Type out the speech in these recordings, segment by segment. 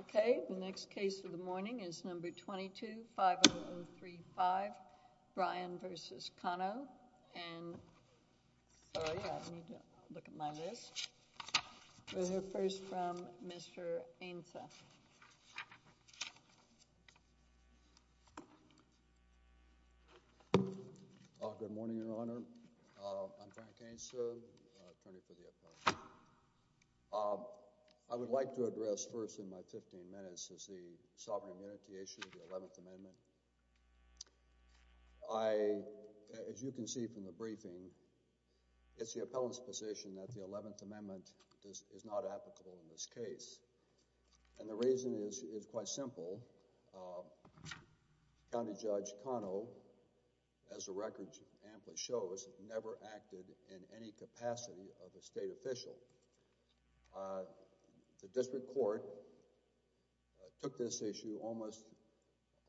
Okay, the next case of the morning is number 22-503-5, Bryan v. Cano, and, oh, yeah, I need to look at my list. We'll hear first from Mr. Ainsa. Frank Ainsa Good morning, Your Honor. I'm Frank Ainsa, attorney for the appellant. I would like to address first in my 15 minutes is the sovereign immunity issue of the 11th Amendment. I, as you can see from the briefing, it's the appellant's position that the 11th Amendment is not applicable in this case, and the reason is quite simple. County Judge Cano, as the record amply shows, never acted in any capacity of a state official. The district court took this issue almost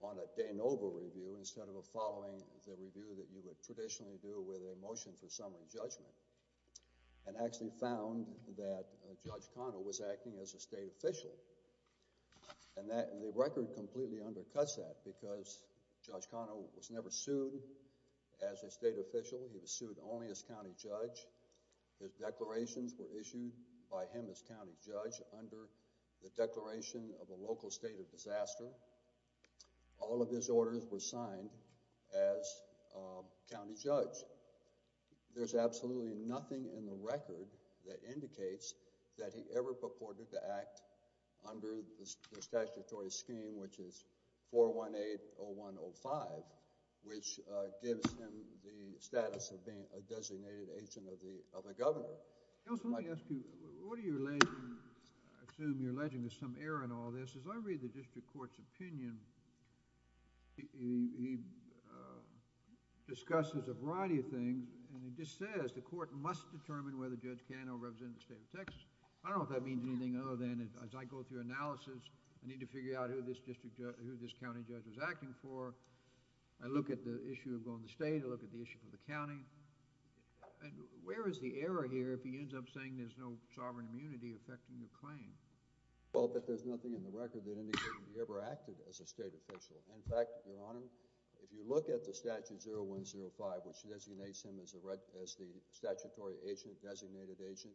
on a de novo review instead of a following the review that you would traditionally do with a motion for summary judgment, and actually found that Judge Cano was acting as a state official, and the record completely undercuts that because Judge Cano was never sued as a state official. He was sued only as county judge. His declarations were issued by him as county judge under the declaration of a local state of disaster. All of his orders were signed as county judge. There's absolutely nothing in the record that indicates that he ever purported to act under the statutory scheme, which is 418-0105, which gives him the status of being a designated agent of the governor. I just want to ask you, I assume you're alleging there's some error in all this. As I read the district court's opinion, he discusses a variety of things, and he just says the court must determine whether Judge Cano represented the state of Texas. I don't know if that means anything other than, as I go through analysis, I need to figure out who this county judge was acting for. I look at the issue of going to state. I look at the issue for the county. Where is the error here if he ends up saying there's no sovereign immunity affecting the claim? Well, there's nothing in the record that indicates he ever acted as a state official. In fact, Your Honor, if you look at the statute 0105, which designates him as the statutory agent, designated agent,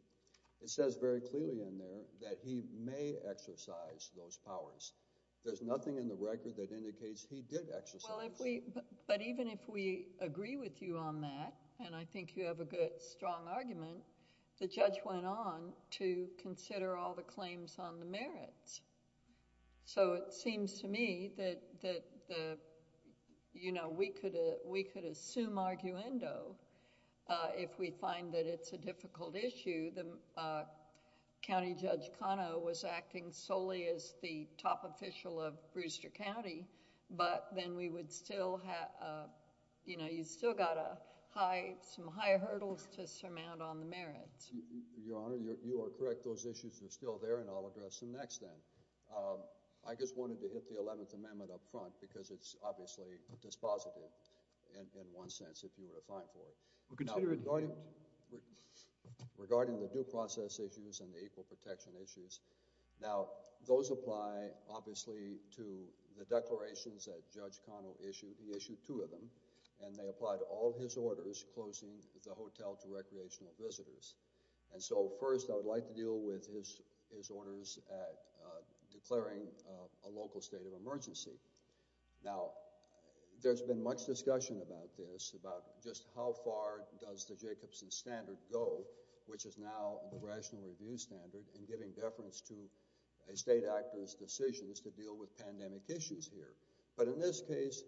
it says very clearly in there that he may exercise those powers. There's nothing in the record that indicates he did exercise. Well, but even if we agree with you on that, and I think you have a good strong argument, the judge went on to consider all the claims on the merits. It seems to me that we could assume arguendo if we find that it's a difficult issue. The county judge, Cano, was acting solely as the top official of Brewster County, but then we would still have... you know, you've still got some high hurdles to surmount on the merits. Your Honor, you are correct. Those issues are still there, and I'll address them next then. I just wanted to hit the Eleventh Amendment up front because it's obviously dispositive in one sense, if you were to fight for it. Regarding the due process issues and the equal protection issues, now, those apply, obviously, to the declarations that Judge Cano issued. He issued two of them, and they apply to all his orders, closing the hotel to recreational visitors. And so, first, I would like to deal with his orders declaring a local state of emergency. Now, there's been much discussion about this, about just how far does the Jacobson Standard go, which is now the Rational Review Standard, in giving deference to a state actor's decisions to deal with pandemic issues here. But in this case,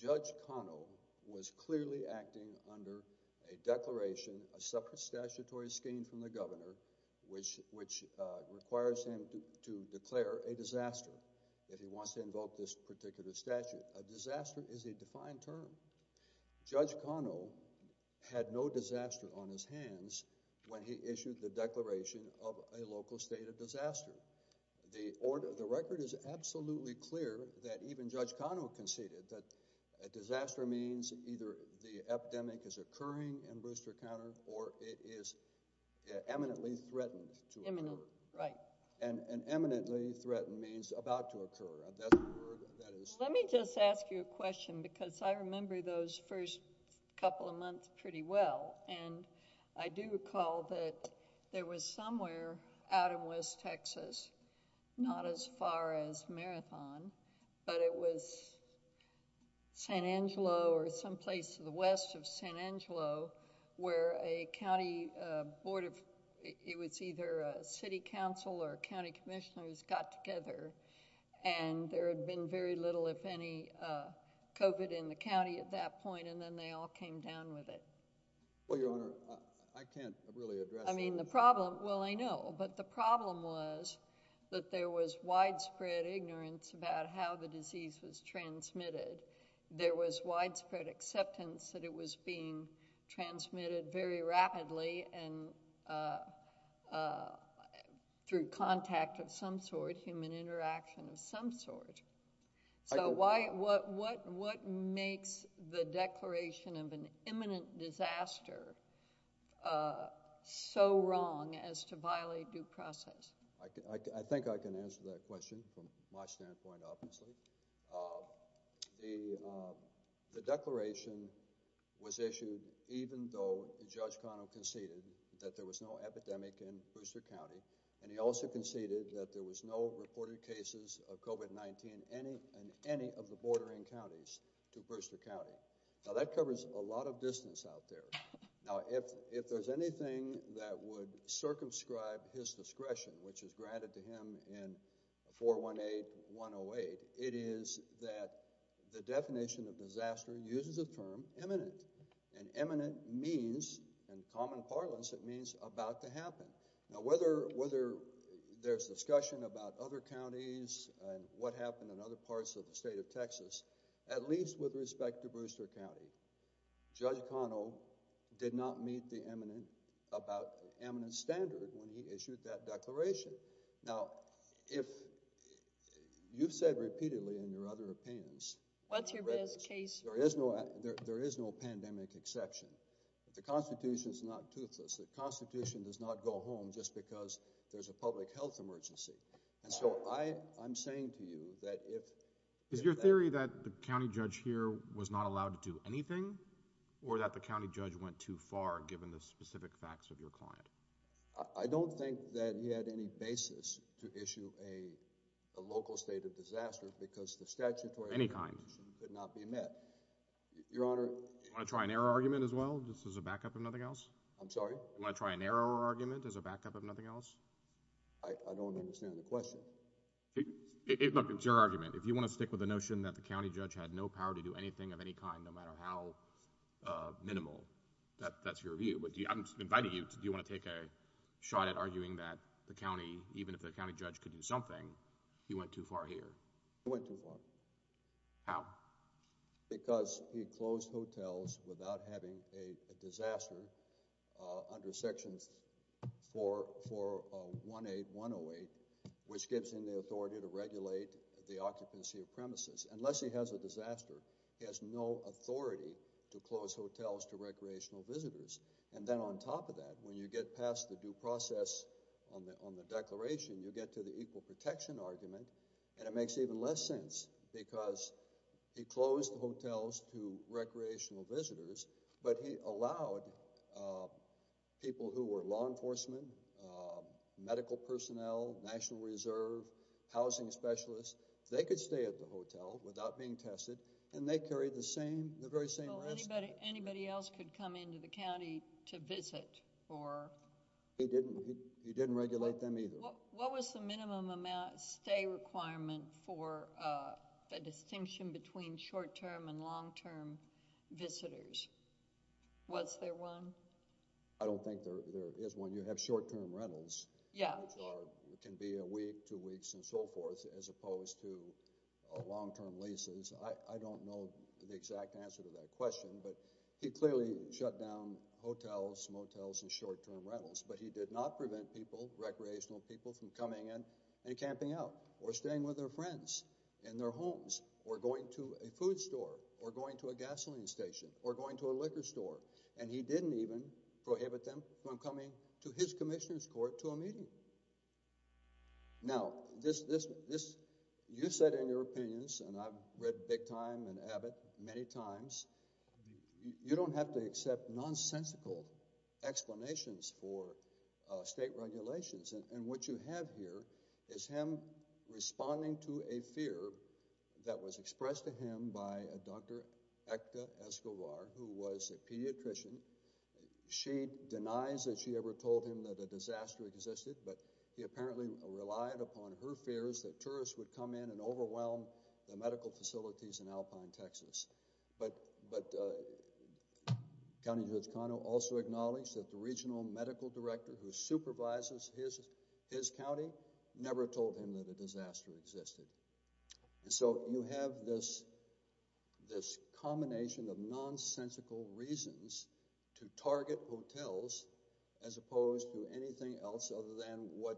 Judge Cano was clearly acting under a declaration, a separate statutory scheme from the Governor, which requires him to declare a disaster, if he wants to invoke this particular statute. A disaster is a defined term. Judge Cano had no disaster on his hands when he issued the declaration of a local state of disaster. The record is absolutely clear that even Judge Cano conceded that a disaster means either the epidemic is occurring in Booster County, or it is eminently threatened to occur. And eminently threatened means about to occur. Let me just ask you a question, because I remember those first couple of months pretty well. And I do recall that there was somewhere out in West Texas, not as far as Marathon, but it was San Angelo or someplace to the west of San Angelo, where a county board of, it was either a city council or county commissioners got together, and there had been very little, if any, COVID in the county at that point, and then they all came down with it. Well, Your Honor, I can't really address that. I mean, the problem, well, I know, but the problem was that there was widespread ignorance about how the disease was transmitted. There was widespread acceptance that it was being transmitted very rapidly and through contact of some sort, human interaction of some sort. So why, what makes the declaration of an imminent disaster so wrong as to violate due process? I think I can answer that question from my standpoint, obviously. The declaration was issued even though Judge Connell conceded that there was no epidemic in Booster County, and he also conceded that there was no reported cases of COVID-19 in any of the bordering counties to Booster County. Now, that covers a lot of distance out there. Now, if there's anything that would circumscribe his discretion, which is granted to him in 418-108, it is that the definition of disaster uses the term imminent, and imminent means, in common parlance, it means about to happen. Now, whether there's discussion about other counties and what happened in other parts of the state of Texas, at least with respect to Booster County, Judge Connell did not meet the imminent, about imminent standard when he issued that declaration. Now, if you've said repeatedly in your other opinions— What's your best case? There is no pandemic exception. The Constitution is not toothless. The Constitution does not go home just because there's a public health emergency. And so I'm saying to you that if— Is your theory that the county judge here was not allowed to do anything or that the county judge went too far given the specific facts of your client? I don't think that he had any basis to issue a local state of disaster because the statutory— Any kind. —did not be met. Your Honor— Do you want to try an error argument as well, just as a backup of nothing else? I'm sorry? Do you want to try an error argument as a backup of nothing else? I don't understand the question. Look, it's your argument. If you want to stick with the notion that the county judge had no power to do anything of any kind, no matter how minimal, that's your view. But I'm inviting you. Do you want to take a shot at arguing that the county, even if the county judge could do something, he went too far here? He went too far. How? Because he closed hotels without having a disaster under Section 418108, which gives him the authority to regulate the occupancy of premises. Unless he has a disaster, he has no authority to close hotels to recreational visitors. And then on top of that, when you get past the due process on the declaration, you get to the equal protection argument, and it makes even less sense because he closed hotels to recreational visitors. But he allowed people who were law enforcement, medical personnel, National Reserve, housing specialists, they could stay at the hotel without being tested, and they carried the very same rest. Anybody else could come into the county to visit? He didn't regulate them either. What was the minimum amount of stay requirement for a distinction between short-term and long-term visitors? Was there one? I don't think there is one. You have short-term rentals, which can be a week, two weeks, and so forth, as opposed to long-term leases. I don't know the exact answer to that question, but he clearly shut down hotels, motels, and short-term rentals. But he did not prevent people, recreational people, from coming in and camping out or staying with their friends in their homes or going to a food store or going to a gasoline station or going to a liquor store. And he didn't even prohibit them from coming to his commissioner's court to a meeting. Now, you said in your opinions, and I've read Big Time and Abbott many times, you don't have to accept nonsensical explanations for state regulations. And what you have here is him responding to a fear that was expressed to him by Dr. Ekta Escobar, who was a pediatrician. She denies that she ever told him that a disaster existed, but he apparently relied upon her fears that tourists would come in and overwhelm the medical facilities in Alpine, Texas. But County Judge Cano also acknowledged that the regional medical director who supervises his county never told him that a disaster existed. And so you have this combination of nonsensical reasons to target hotels as opposed to anything else other than what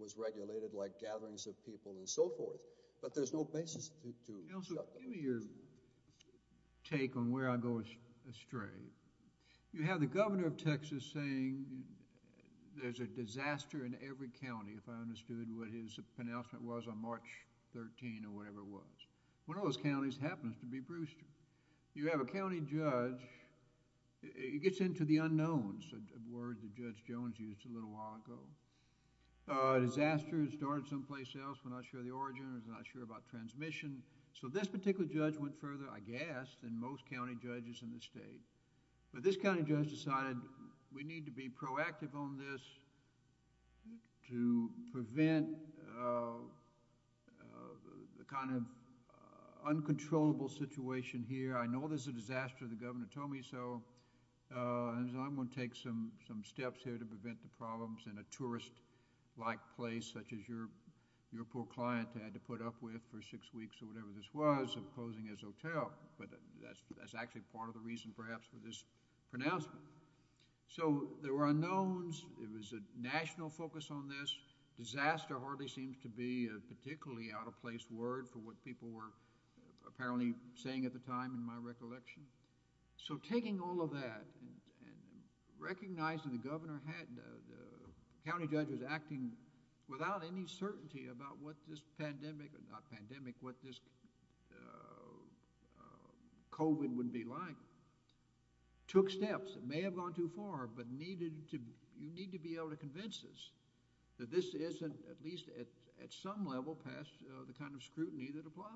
was regulated, like gatherings of people and so forth. Also, give me your take on where I go astray. You have the governor of Texas saying there's a disaster in every county, if I understood what his pronouncement was on March 13 or whatever it was. One of those counties happens to be Brewster. You have a county judge. It gets into the unknowns, a word that Judge Jones used a little while ago. A disaster that started someplace else, we're not sure of the origin, we're not sure about transmission. So this particular judge went further, I guess, than most county judges in the state. But this county judge decided we need to be proactive on this to prevent the kind of uncontrollable situation here. I know there's a disaster, the governor told me, so I'm going to take some steps here to prevent the problems in a tourist-like place, such as your poor client had to put up with for six weeks or whatever this was of closing his hotel. But that's actually part of the reason, perhaps, for this pronouncement. So there were unknowns. It was a national focus on this. Disaster hardly seems to be a particularly out-of-place word for what people were apparently saying at the time, in my recollection. So taking all of that and recognizing the governor had, the county judge was acting without any certainty about what this pandemic, not pandemic, what this COVID would be like. Took steps that may have gone too far, but you need to be able to convince us that this isn't, at least at some level, past the kind of scrutiny that applies.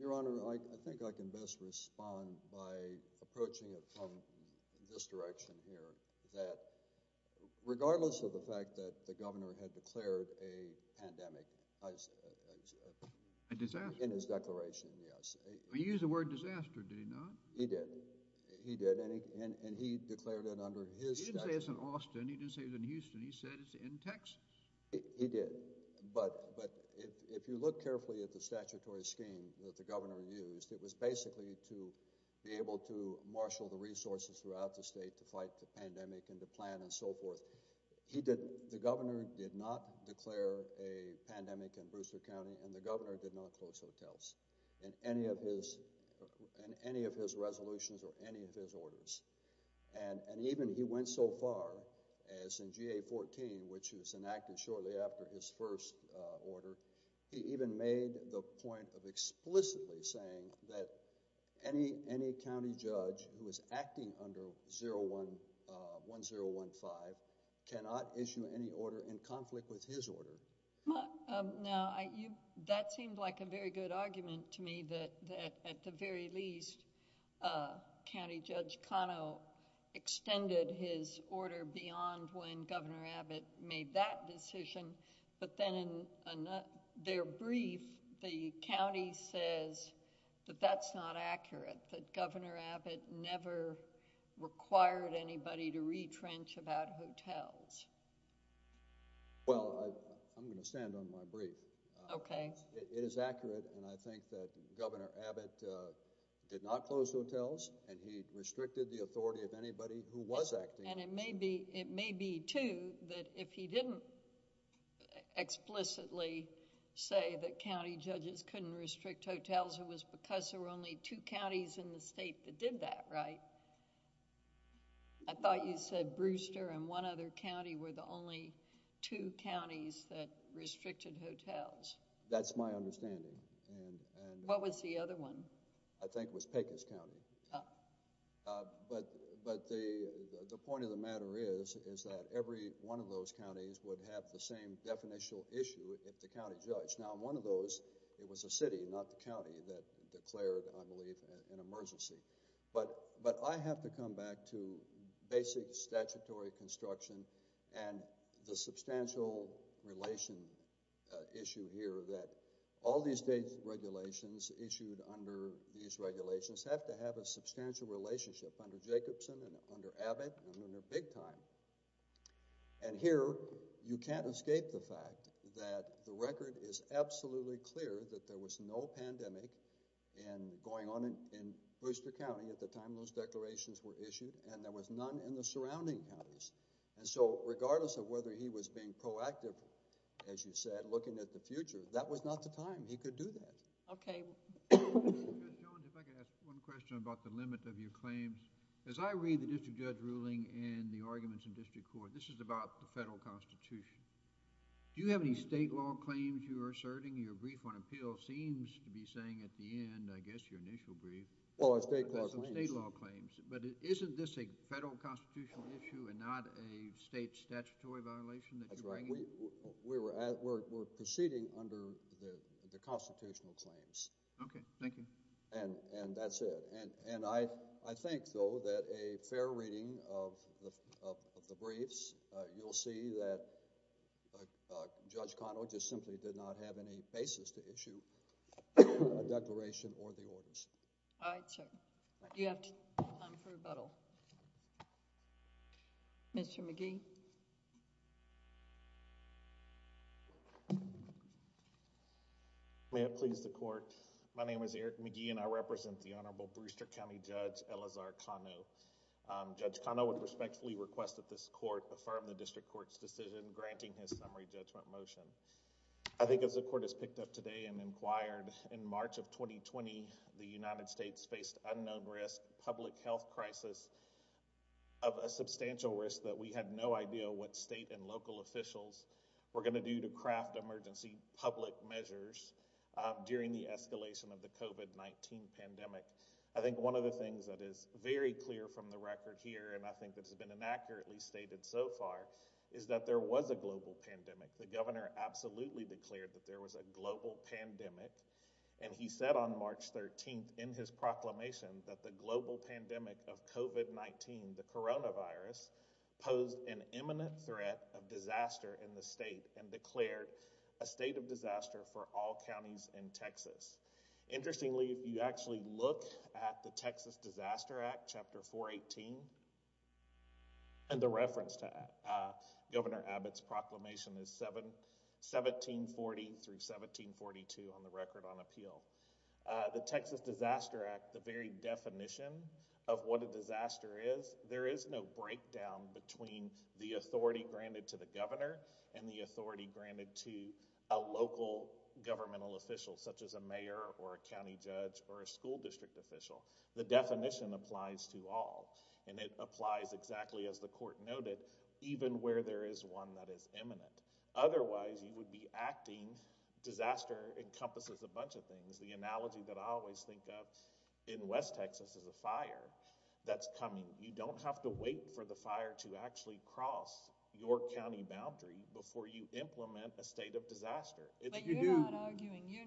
Your Honor, I think I can best respond by approaching it from this direction here, that regardless of the fact that the governor had declared a pandemic in his declaration, yes. He used the word disaster, did he not? He did. He did. And he declared it under his statute. He didn't say it's in Austin. He didn't say it's in Houston. He said it's in Texas. He did. But if you look carefully at the statutory scheme that the governor used, it was basically to be able to marshal the resources throughout the state to fight the pandemic and to plan and so forth. The governor did not declare a pandemic in Bruceford County and the governor did not close hotels in any of his resolutions or any of his orders. And even he went so far as in GA-14, which was enacted shortly after his first order, he even made the point of explicitly saying that any county judge who is acting under 1015 cannot issue any order in conflict with his order. Now, that seemed like a very good argument to me, that at the very least, County Judge Cano extended his order beyond when Governor Abbott made that decision. But then in their brief, the county says that that's not accurate, that Governor Abbott never required anybody to retrench about hotels. Well, I'm going to stand on my brief. Okay. It is accurate and I think that Governor Abbott did not close hotels and he restricted the authority of anybody who was acting. And it may be, too, that if he didn't explicitly say that county judges couldn't restrict hotels, it was because there were only two counties in the state that did that, right? I thought you said Brewster and one other county were the only two counties that restricted hotels. That's my understanding. What was the other one? I think it was Pecos County. But the point of the matter is that every one of those counties would have the same definitional issue if the county judge. Now, in one of those, it was the city, not the county, that declared, I believe, an emergency. But I have to come back to basic statutory construction and the substantial relation issue here that all these state regulations issued under these regulations have to have a substantial relationship under Jacobson and under Abbott and under Big Time. And here, you can't escape the fact that the record is absolutely clear that there was no pandemic going on in Brewster County at the time those declarations were issued and there was none in the surrounding counties. And so regardless of whether he was being proactive, as you said, looking at the future, that was not the time he could do that. Okay. John, if I could ask one question about the limit of your claims. As I read the district judge ruling and the arguments in district court, this is about the federal constitution. Do you have any state law claims you're asserting? Your brief on appeal seems to be saying at the end, I guess, your initial brief, state law claims. But isn't this a federal constitutional issue and not a state statutory violation that you're bringing? That's right. We're proceeding under the constitutional claims. Okay. Thank you. And that's it. And I think, though, that a fair reading of the briefs, you'll see that Judge Connell just simply did not have any basis to issue a declaration or the orders. All right, sir. You have time for rebuttal. Mr. McGee. May it please the court. My name is Eric McGee and I represent the Honorable Brewster County Judge Eleazar Connell. Judge Connell would respectfully request that this court affirm the district court's decision granting his summary judgment motion. I think as the court has picked up today and inquired in March of 2020, the United States faced unknown risk, public health crisis of a substantial risk that we had no idea what state and local officials were going to do to craft emergency public measures during the escalation of the COVID-19 pandemic. I think one of the things that is very clear from the record here, and I think that's been inaccurately stated so far, is that there was a global pandemic. The governor absolutely declared that there was a global pandemic. And he said on March 13th in his proclamation that the global pandemic of COVID-19, the coronavirus, posed an imminent threat of disaster in the state and declared a state of disaster for all counties in Texas. Interestingly, if you actually look at the Texas Disaster Act, Chapter 418, and the reference to that, Governor Abbott's proclamation is 1740 through 1742 on the record on appeal. The Texas Disaster Act, the very definition of what a disaster is, there is no breakdown between the authority granted to the governor and the authority granted to a local governmental official, such as a mayor or a county judge or a school district official. The definition applies to all. And it applies exactly as the court noted, even where there is one that is imminent. Otherwise, you would be acting, disaster encompasses a bunch of things. The analogy that I always think of in West Texas is a fire that's coming. You don't have to wait for the fire to actually cross your county boundary before you implement a state of disaster. But you're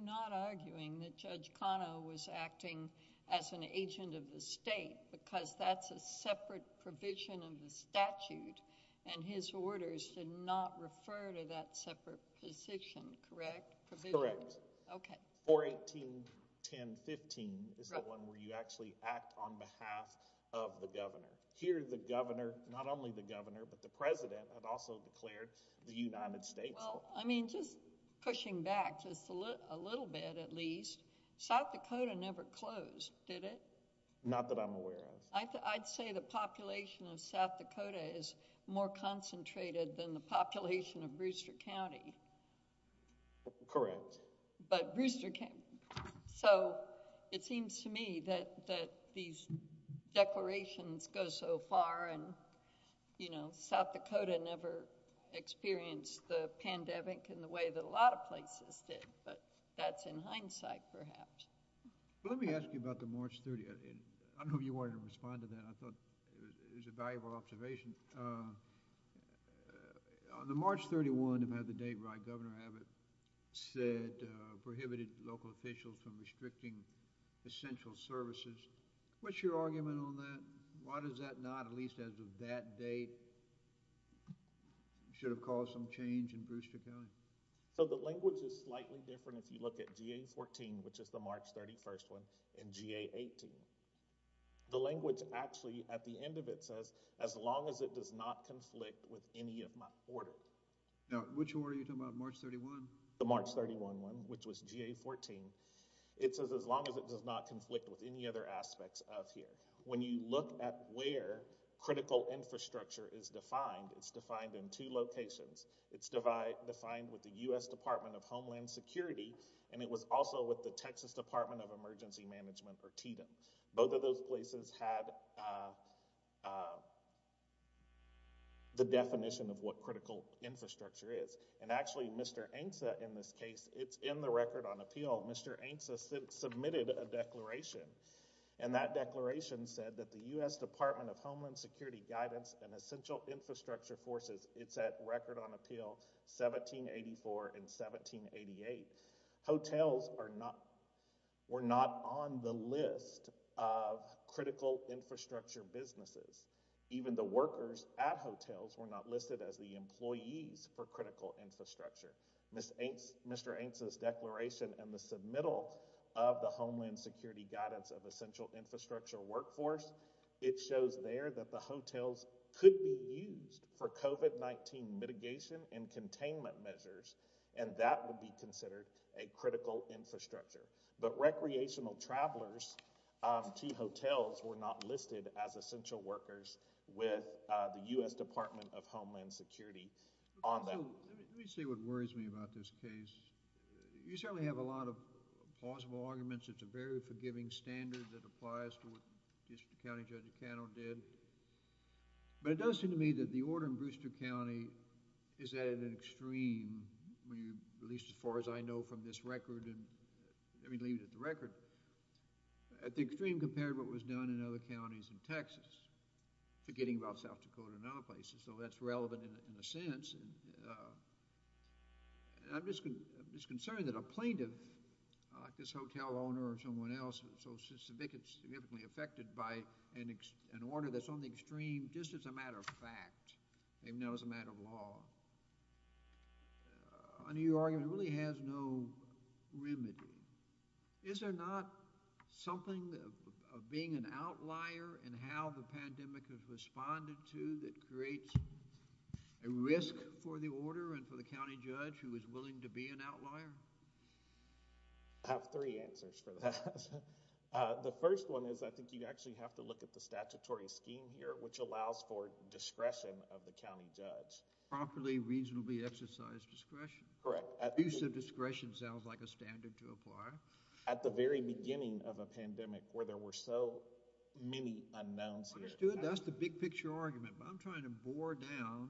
not arguing that Judge Cano was acting as an agent of the state because that's a separate provision of the statute, and his orders did not refer to that separate position, correct? Correct. Okay. 418.10.15 is the one where you actually act on behalf of the governor. Here, the governor, not only the governor, but the president, had also declared the United States. Well, I mean, just pushing back just a little bit, at least, South Dakota never closed, did it? Not that I'm aware of. I'd say the population of South Dakota is more concentrated than the population of Brewster County. Correct. So it seems to me that these declarations go so far, and South Dakota never experienced the pandemic in the way that a lot of places did. But that's in hindsight, perhaps. Let me ask you about the March 30th. I don't know if you wanted to respond to that. I thought it was a valuable observation. On the March 31, if I have the date right, Governor Abbott said, prohibited local officials from restricting essential services. What's your argument on that? Why does that not, at least as of that date, should have caused some change in Brewster County? So the language is slightly different if you look at GA-14, which is the March 31st one, and GA-18. The language actually, at the end of it, says, as long as it does not conflict with any of my orders. Now, which order are you talking about, March 31? The March 31 one, which was GA-14. It says, as long as it does not conflict with any other aspects of here. When you look at where critical infrastructure is defined, it's defined in two locations. It's defined with the U.S. Department of Homeland Security, and it was also with the Texas Department of Emergency Management, or TEDM. Both of those places had the definition of what critical infrastructure is. And actually, Mr. Ainsa, in this case, it's in the Record on Appeal. Mr. Ainsa submitted a declaration, and that declaration said that the U.S. Department of Homeland Security Guidance and Essential Infrastructure Forces, it's at Record on Appeal 1784 and 1788. Hotels were not on the list of critical infrastructure businesses. Even the workers at hotels were not listed as the employees for critical infrastructure. Mr. Ainsa's declaration in the submittal of the Homeland Security Guidance of Essential Infrastructure Workforce, it shows there that the hotels could be used for COVID-19 mitigation and containment measures, and that would be considered a critical infrastructure. But recreational travelers to hotels were not listed as essential workers with the U.S. Department of Homeland Security on them. Let me see what worries me about this case. You certainly have a lot of plausible arguments. It's a very forgiving standard that applies to what District County Judge Cano did. But it does seem to me that the order in Brewster County is at an extreme, at least as far as I know from this record, and I mean, leaving it at the record, at the extreme compared to what was done in other counties in Texas, forgetting about South Dakota and other places. So that's relevant in a sense. I'm just concerned that a plaintiff, like this hotel owner or someone else, so significantly affected by an order that's on the extreme, just as a matter of fact, even though it's a matter of law, under your argument, really has no remedy. Is there not something of being an outlier in how the pandemic has responded to that creates a risk for the order and for the county judge who is willing to be an outlier? I have three answers for that. The first one is I think you actually have to look at the statutory scheme here, which allows for discretion of the county judge. Properly, reasonably exercise discretion. Correct. Use of discretion sounds like a standard to apply. At the very beginning of a pandemic where there were so many unknowns here. Understood. That's the big picture argument, but I'm trying to bore down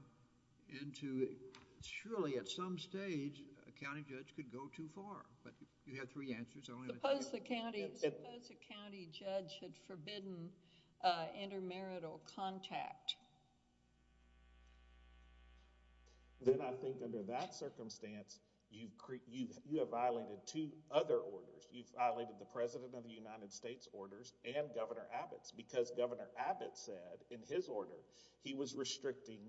into it. Surely, at some stage, a county judge could go too far, but you have three answers. Suppose the county judge had forbidden intermarital contact. Then I think under that circumstance, you have violated two other orders. You've violated the President of the United States orders and Governor Abbott's because Governor Abbott said in his order, he was restricting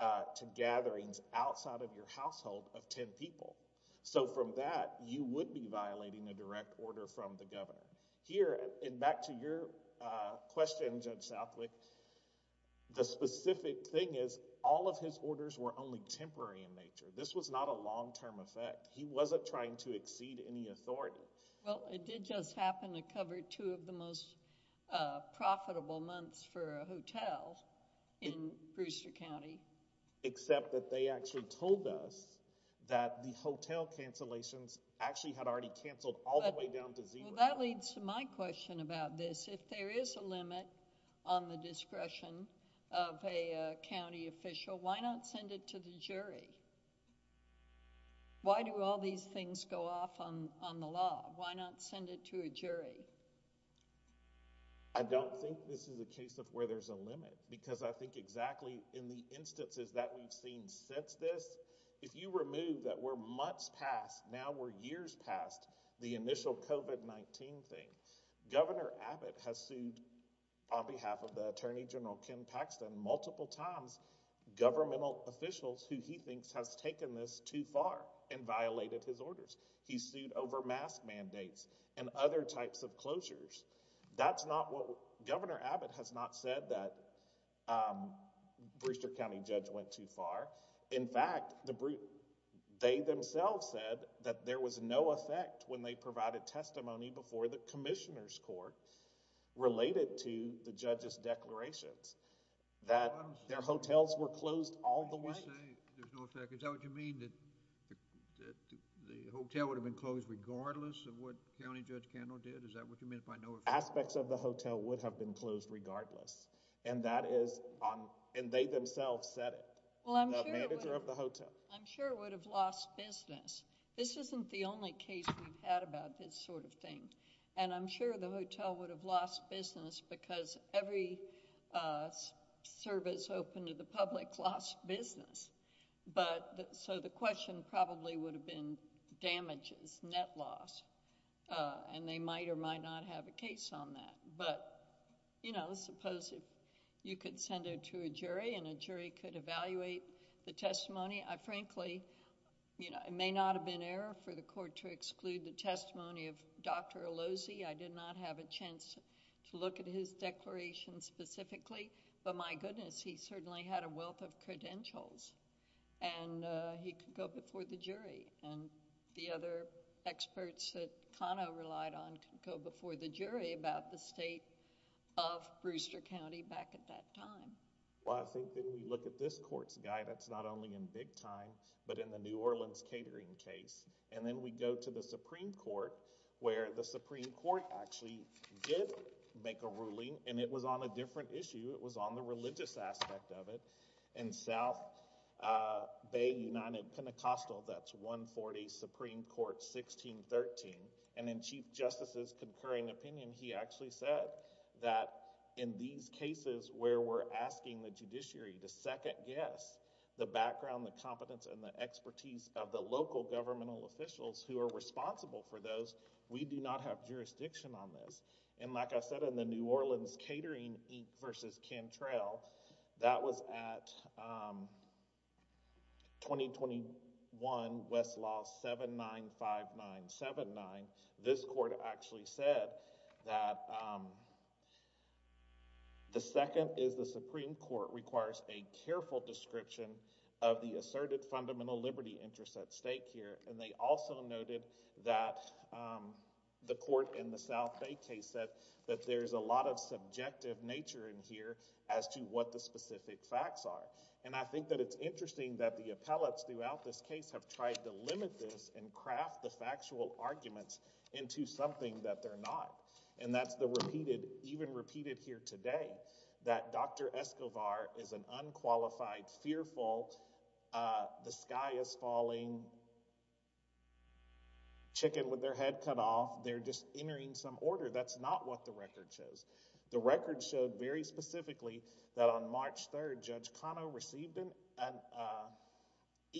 to gatherings outside of your household of 10 people. So from that, you would be violating a direct order from the governor. Here, and back to your question, Judge Southwick, the specific thing is all of his orders were only temporary in nature. This was not a long-term effect. He wasn't trying to exceed any authority. Well, it did just happen to cover two of the most profitable months for a hotel in Brewster County. Except that they actually told us that the hotel cancellations actually had already canceled all the way down to Zebra. Well, that leads to my question about this. If there is a limit on the discretion of a county official, why not send it to the jury? Why do all these things go off on the law? Why not send it to a jury? I don't think this is a case of where there's a limit because I think exactly in the instances that we've seen since this, if you remove that we're months past, now we're years past the initial COVID-19 thing, Governor Abbott has sued on behalf of the Attorney General, Ken Paxton, multiple times governmental officials who he thinks has taken this too far and violated his orders. He sued over mask mandates and other types of closures. Governor Abbott has not said that Brewster County judge went too far. In fact, they themselves said that there was no effect when they provided testimony before the Commissioner's Court related to the judge's declarations, that their hotels were closed all the way. You say there's no effect. Is that what you mean, that the hotel would have been closed regardless of what County Judge Kendall did? Is that what you mean by no effect? Aspects of the hotel would have been closed regardless. And they themselves said it. The manager of the hotel. I'm sure it would have lost business. This isn't the only case we've had about this sort of thing. And I'm sure the hotel would have lost business because every service open to the public lost business. So the question probably would have been damages, net loss, and they might or might not have a case on that. But suppose you could send it to a jury and a jury could evaluate the testimony. Frankly, it may not have been error for the court to exclude the testimony of Dr. Alozi. I did not have a chance to look at his declaration specifically. But my goodness, he certainly had a wealth of credentials and he could go before the jury. And the other experts that Kano relied on could go before the jury about the state of Brewster County back at that time. Well, I think that when you look at this court's guy, that's not only in big time, but in the New Orleans catering case. And then we go to the Supreme Court where the Supreme Court actually did make a ruling and it was on a different issue. It was on the religious aspect of it. In South Bay United Pentecostal, that's 140 Supreme Court 1613. And in Chief Justice's concurring opinion, he actually said that in these cases where we're asking the judiciary to second guess the background, the competence, and the expertise of the local governmental officials who are responsible for those, we do not have jurisdiction on this. And like I said, in the New Orleans catering versus Cantrell, that was at 2021 Westlaw 795979. This court actually said that the second is the Supreme Court requires a careful description of the asserted fundamental liberty interests at stake here. And they also noted that the court in the South Bay case said that there's a lot of subjective nature in here as to what the specific facts are. And I think that it's interesting that the appellates throughout this case have tried to limit this and craft the factual arguments into something that they're not. And that's the repeated, even repeated here today, that Dr. Escobar is an unqualified, fearful, the sky is falling, chicken with their head cut off, they're just entering some order. That's not what the record shows. The record showed very specifically that on March 3rd, Judge Cano received an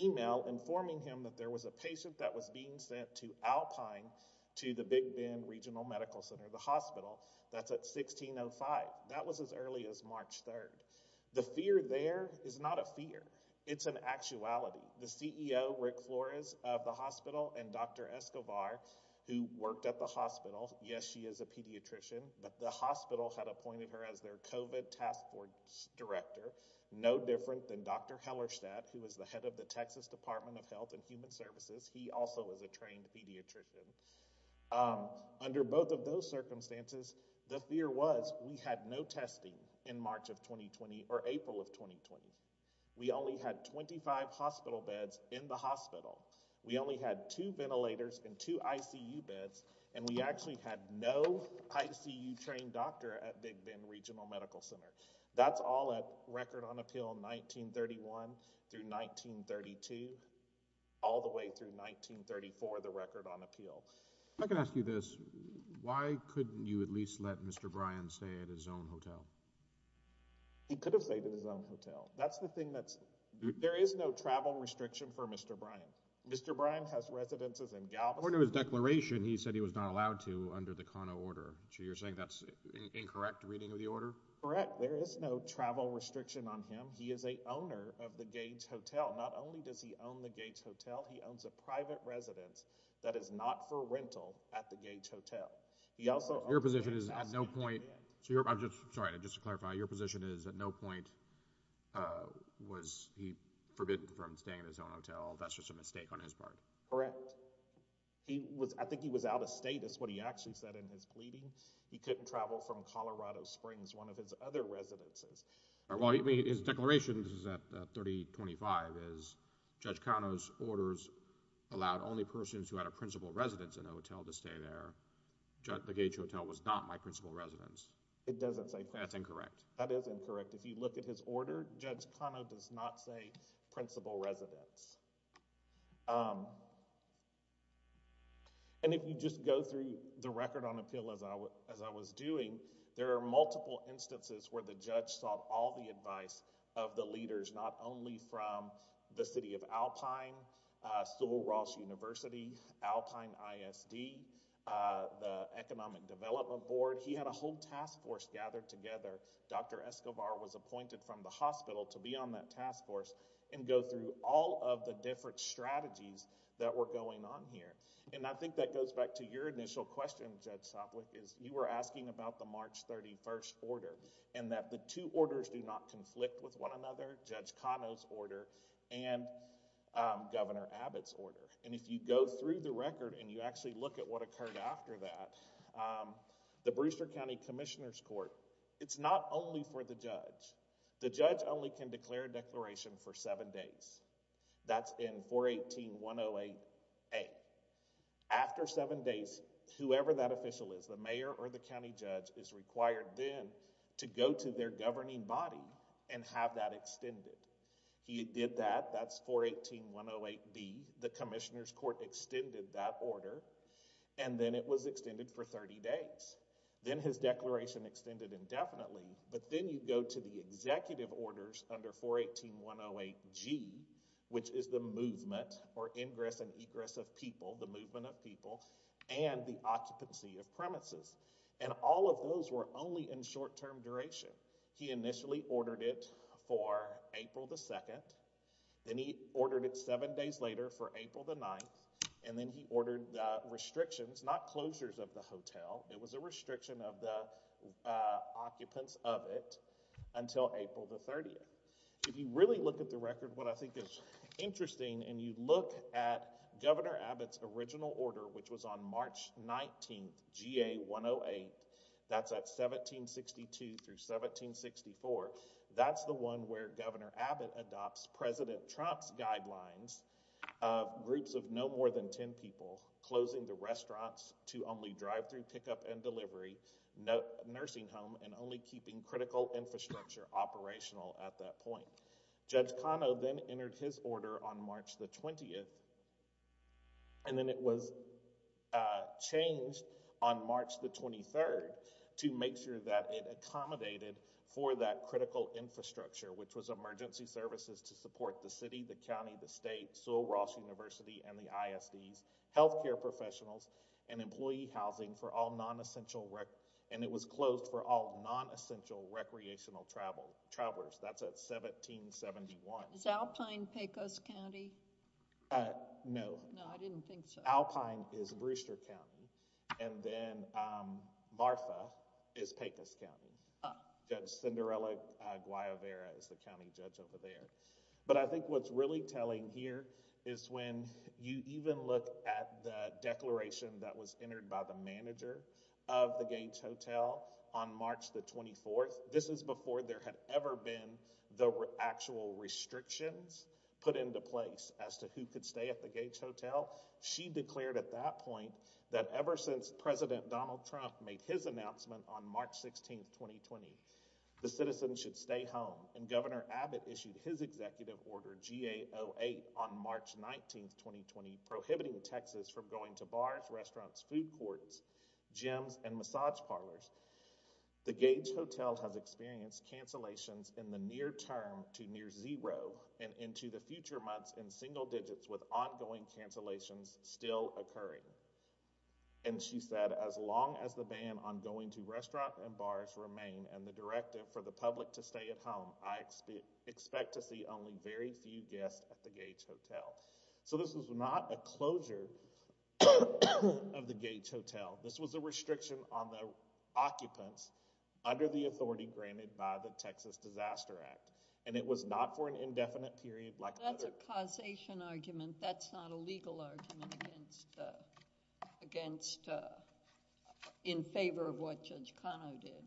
email informing him that there was a patient that was being sent to Alpine to the Big Bend Regional Medical Center, the hospital. That's at 1605. That was as early as March 3rd. The fear there is not a fear. It's an actuality. The CEO, Rick Flores, of the hospital and Dr. Escobar, who worked at the hospital, yes, she is a pediatrician, but the hospital had appointed her as their COVID task force director. No different than Dr. Hellerstadt, who is the head of the Texas Department of Health and Human Services. He also is a trained pediatrician. Under both of those circumstances, the fear was we had no testing in March of 2020 or April of 2020. We only had 25 hospital beds in the hospital. We only had two ventilators and two ICU beds, and we actually had no ICU trained doctor at Big Bend Regional Medical Center. That's all at record on appeal 1931 through 1932, all the way through 1934, the record on appeal. I can ask you this. Why couldn't you at least let Mr. Bryan stay at his own hotel? He could have stayed at his own hotel. That's the thing. There is no travel restriction for Mr. Bryan. Mr. Bryan has residences in Galveston. According to his declaration, he said he was not allowed to under the Kano order. So you're saying that's incorrect reading of the order? Correct. There is no travel restriction on him. He is a owner of the Gage Hotel. Not only does he own the Gage Hotel, he owns a private residence that is not for rental at the Gage Hotel. Your position is at no point, sorry, just to clarify, your position is at no point was he forbidden from staying at his own hotel. That's just a mistake on his part. Correct. I think he was out of state is what he actually said in his pleading. He couldn't travel from Colorado Springs, one of his other residences. His declaration, this is at 3025, is Judge Kano's orders allowed only persons who had a principal residence in a hotel to stay there. The Gage Hotel was not my principal residence. It doesn't say principal. That's incorrect. That is incorrect. If you look at his order, Judge Kano does not say principal residence. And if you just go through the record on appeal as I was doing, there are multiple instances where the judge sought all the advice of the leaders, not only from the city of Alpine, Sewell Ross University, Alpine ISD, the Economic Development Board. He had a whole task force gathered together. Dr. Escobar was appointed from the hospital to be on that task force and go through all of the different strategies that were going on here. And I think that goes back to your initial question, Judge Soplic, is you were asking about the March 31st order and that the two orders do not conflict with one another, Judge Kano's order and Governor Abbott's order. And if you go through the record and you actually look at what occurred after that, the Brewster County Commissioner's Court, it's not only for the judge. The judge only can declare a declaration for seven days. That's in 418-108-A. After seven days, whoever that official is, the mayor or the county judge, is required then to go to their governing body and have that extended. He did that. That's 418-108-B. The Commissioner's Court extended that order, and then it was extended for 30 days. Then his declaration extended indefinitely, but then you go to the executive orders under 418-108-G, which is the movement or ingress and egress of people, the movement of people, and the occupancy of premises. And all of those were only in short-term duration. He initially ordered it for April the 2nd. Then he ordered it seven days later for April the 9th. And then he ordered restrictions, not closures of the hotel. It was a restriction of the occupants of it until April the 30th. If you really look at the record, what I think is interesting, and you look at Governor Abbott's original order, which was on March 19th, GA-108, that's at 1762-1764, that's the one where Governor Abbott adopts President Trump's guidelines, groups of no more than ten people, closing the restaurants to only drive-thru pickup and delivery, nursing home, and only keeping critical infrastructure operational at that point. Judge Kano then entered his order on March the 20th, and then it was changed on March the 23rd to make sure that it accommodated for that critical infrastructure, which was emergency services to support the city, the county, the state, Sewell Ross University, and the ISDs, healthcare professionals, and employee housing for all non-essential, and it was closed for all non-essential recreational travelers. That's at 1771. Is Alpine Pecos County? No. No, I didn't think so. Alpine is Brewster County, and then Martha is Pecos County. Judge Cinderella Guayavera is the county judge over there. But I think what's really telling here is when you even look at the declaration that was entered by the manager of the Gage Hotel on March the 24th, this is before there had ever been the actual restrictions put into place as to who could stay at the Gage Hotel. She declared at that point that ever since President Donald Trump made his announcement on March 16, 2020, the citizens should stay home, and Governor Abbott issued his executive order, GA08, on March 19, 2020, prohibiting taxes from going to bars, restaurants, food courts, gyms, and massage parlors. The Gage Hotel has experienced cancellations in the near term to near zero, and into the future months in single digits with ongoing cancellations still occurring. And she said, as long as the ban on going to restaurants and bars remain, and the directive for the public to stay at home, I expect to see only very few guests at the Gage Hotel. So this was not a closure of the Gage Hotel. This was a restriction on the occupants under the authority granted by the Texas Disaster Act, and it was not for an indefinite period like the other— That's a causation argument. That's not a legal argument against—in favor of what Judge Kano did.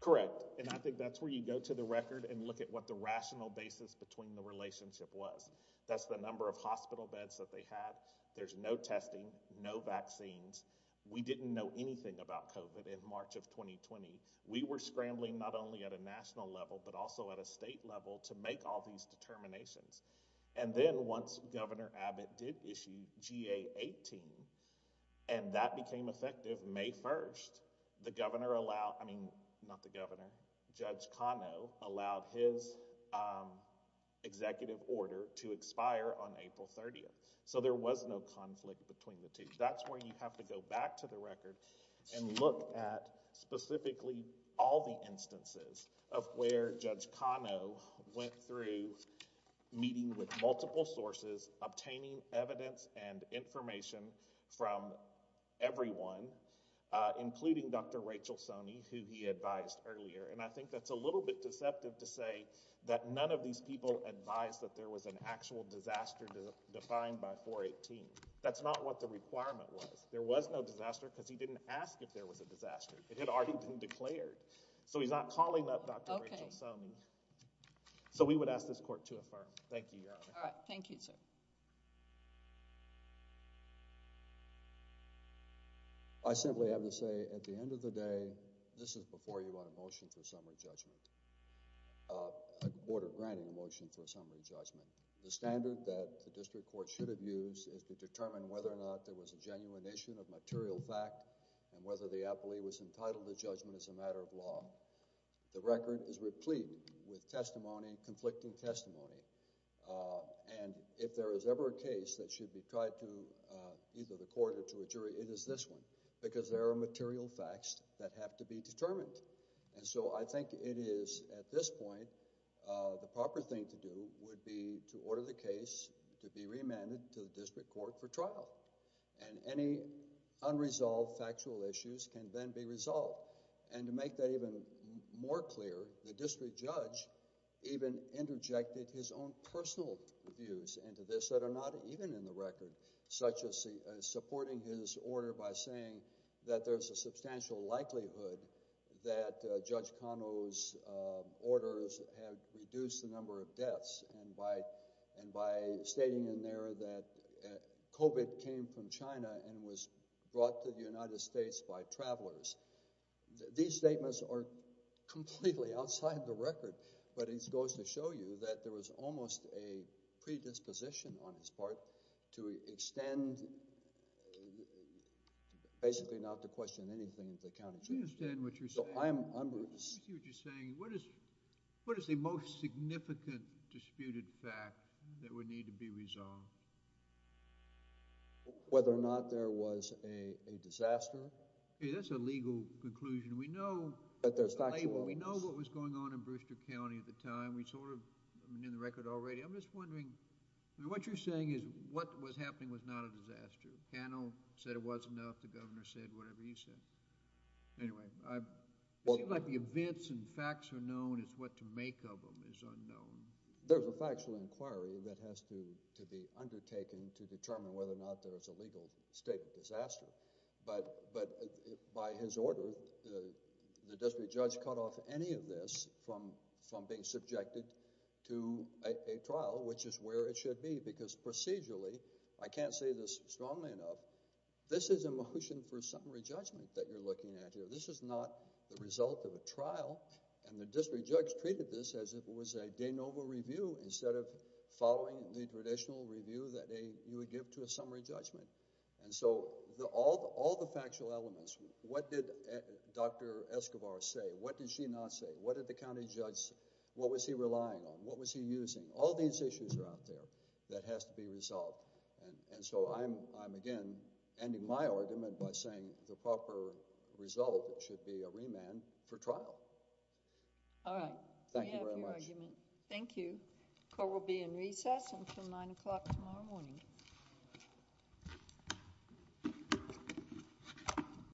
Correct. And I think that's where you go to the record and look at what the rational basis between the relationship was. That's the number of hospital beds that they had. There's no testing, no vaccines. We didn't know anything about COVID in March of 2020. We were scrambling not only at a national level but also at a state level to make all these determinations. And then once Governor Abbott did issue GA18, and that became effective May 1, the governor allowed—I mean, not the governor, Judge Kano allowed his executive order to expire on April 30. So there was no conflict between the two. That's where you have to go back to the record and look at specifically all the instances of where Judge Kano went through meeting with multiple sources, obtaining evidence and information from everyone, including Dr. Rachel Soney, who he advised earlier. And I think that's a little bit deceptive to say that none of these people advised that there was an actual disaster defined by 418. That's not what the requirement was. There was no disaster because he didn't ask if there was a disaster. It had already been declared. So he's not calling up Dr. Rachel Soney. So we would ask this court to affirm. Thank you, Your Honor. All right. Thank you, sir. I simply have to say, at the end of the day, this is before you on a motion for a summary judgment, a board of granting a motion for a summary judgment. The standard that the district court should have used is to determine whether or not there was a genuine issue of material fact and whether the appellee was entitled to judgment as a matter of law. The record is replete with testimony, conflicting testimony. And if there is ever a case that should be tried to either the court or to a jury, it is this one because there are material facts that have to be determined. And so I think it is at this point the proper thing to do would be to order the case to be reamended to the district court for trial. And any unresolved factual issues can then be resolved. And to make that even more clear, the district judge even interjected his own personal views into this that are not even in the record, such as supporting his order by saying that there's a substantial likelihood that Judge Cano's orders have reduced the number of deaths and by stating in there that COVID came from China and was brought to the United States by travelers. These statements are completely outside the record. But it goes to show you that there was almost a predisposition on his part to extend basically not to question anything that counted. I don't understand what you're saying. What is the most significant disputed fact that would need to be resolved? Whether or not there was a disaster. That's a legal conclusion. We know what was going on in Brewster County at the time. We sort of knew the record already. I'm just wondering, what you're saying is what was happening was not a disaster. Judge Cano said it wasn't enough. The governor said whatever he said. Anyway, it seems like the events and facts are known. It's what to make of them is unknown. There's a factual inquiry that has to be undertaken to determine whether or not there's a legal state of disaster. But by his order, the district judge cut off any of this from being subjected to a trial, which is where it should be. Because procedurally, I can't say this strongly enough, this is a motion for summary judgment that you're looking at here. This is not the result of a trial. And the district judge treated this as if it was a de novo review instead of following the traditional review that you would give to a summary judgment. And so all the factual elements, what did Dr. Escobar say? What did she not say? What did the county judge say? What was he relying on? What was he using? All these issues are out there that has to be resolved. And so I'm, again, ending my argument by saying the proper result should be a remand for trial. All right. Thank you very much. We have your argument. Thank you. Court will be in recess until 9 o'clock tomorrow morning.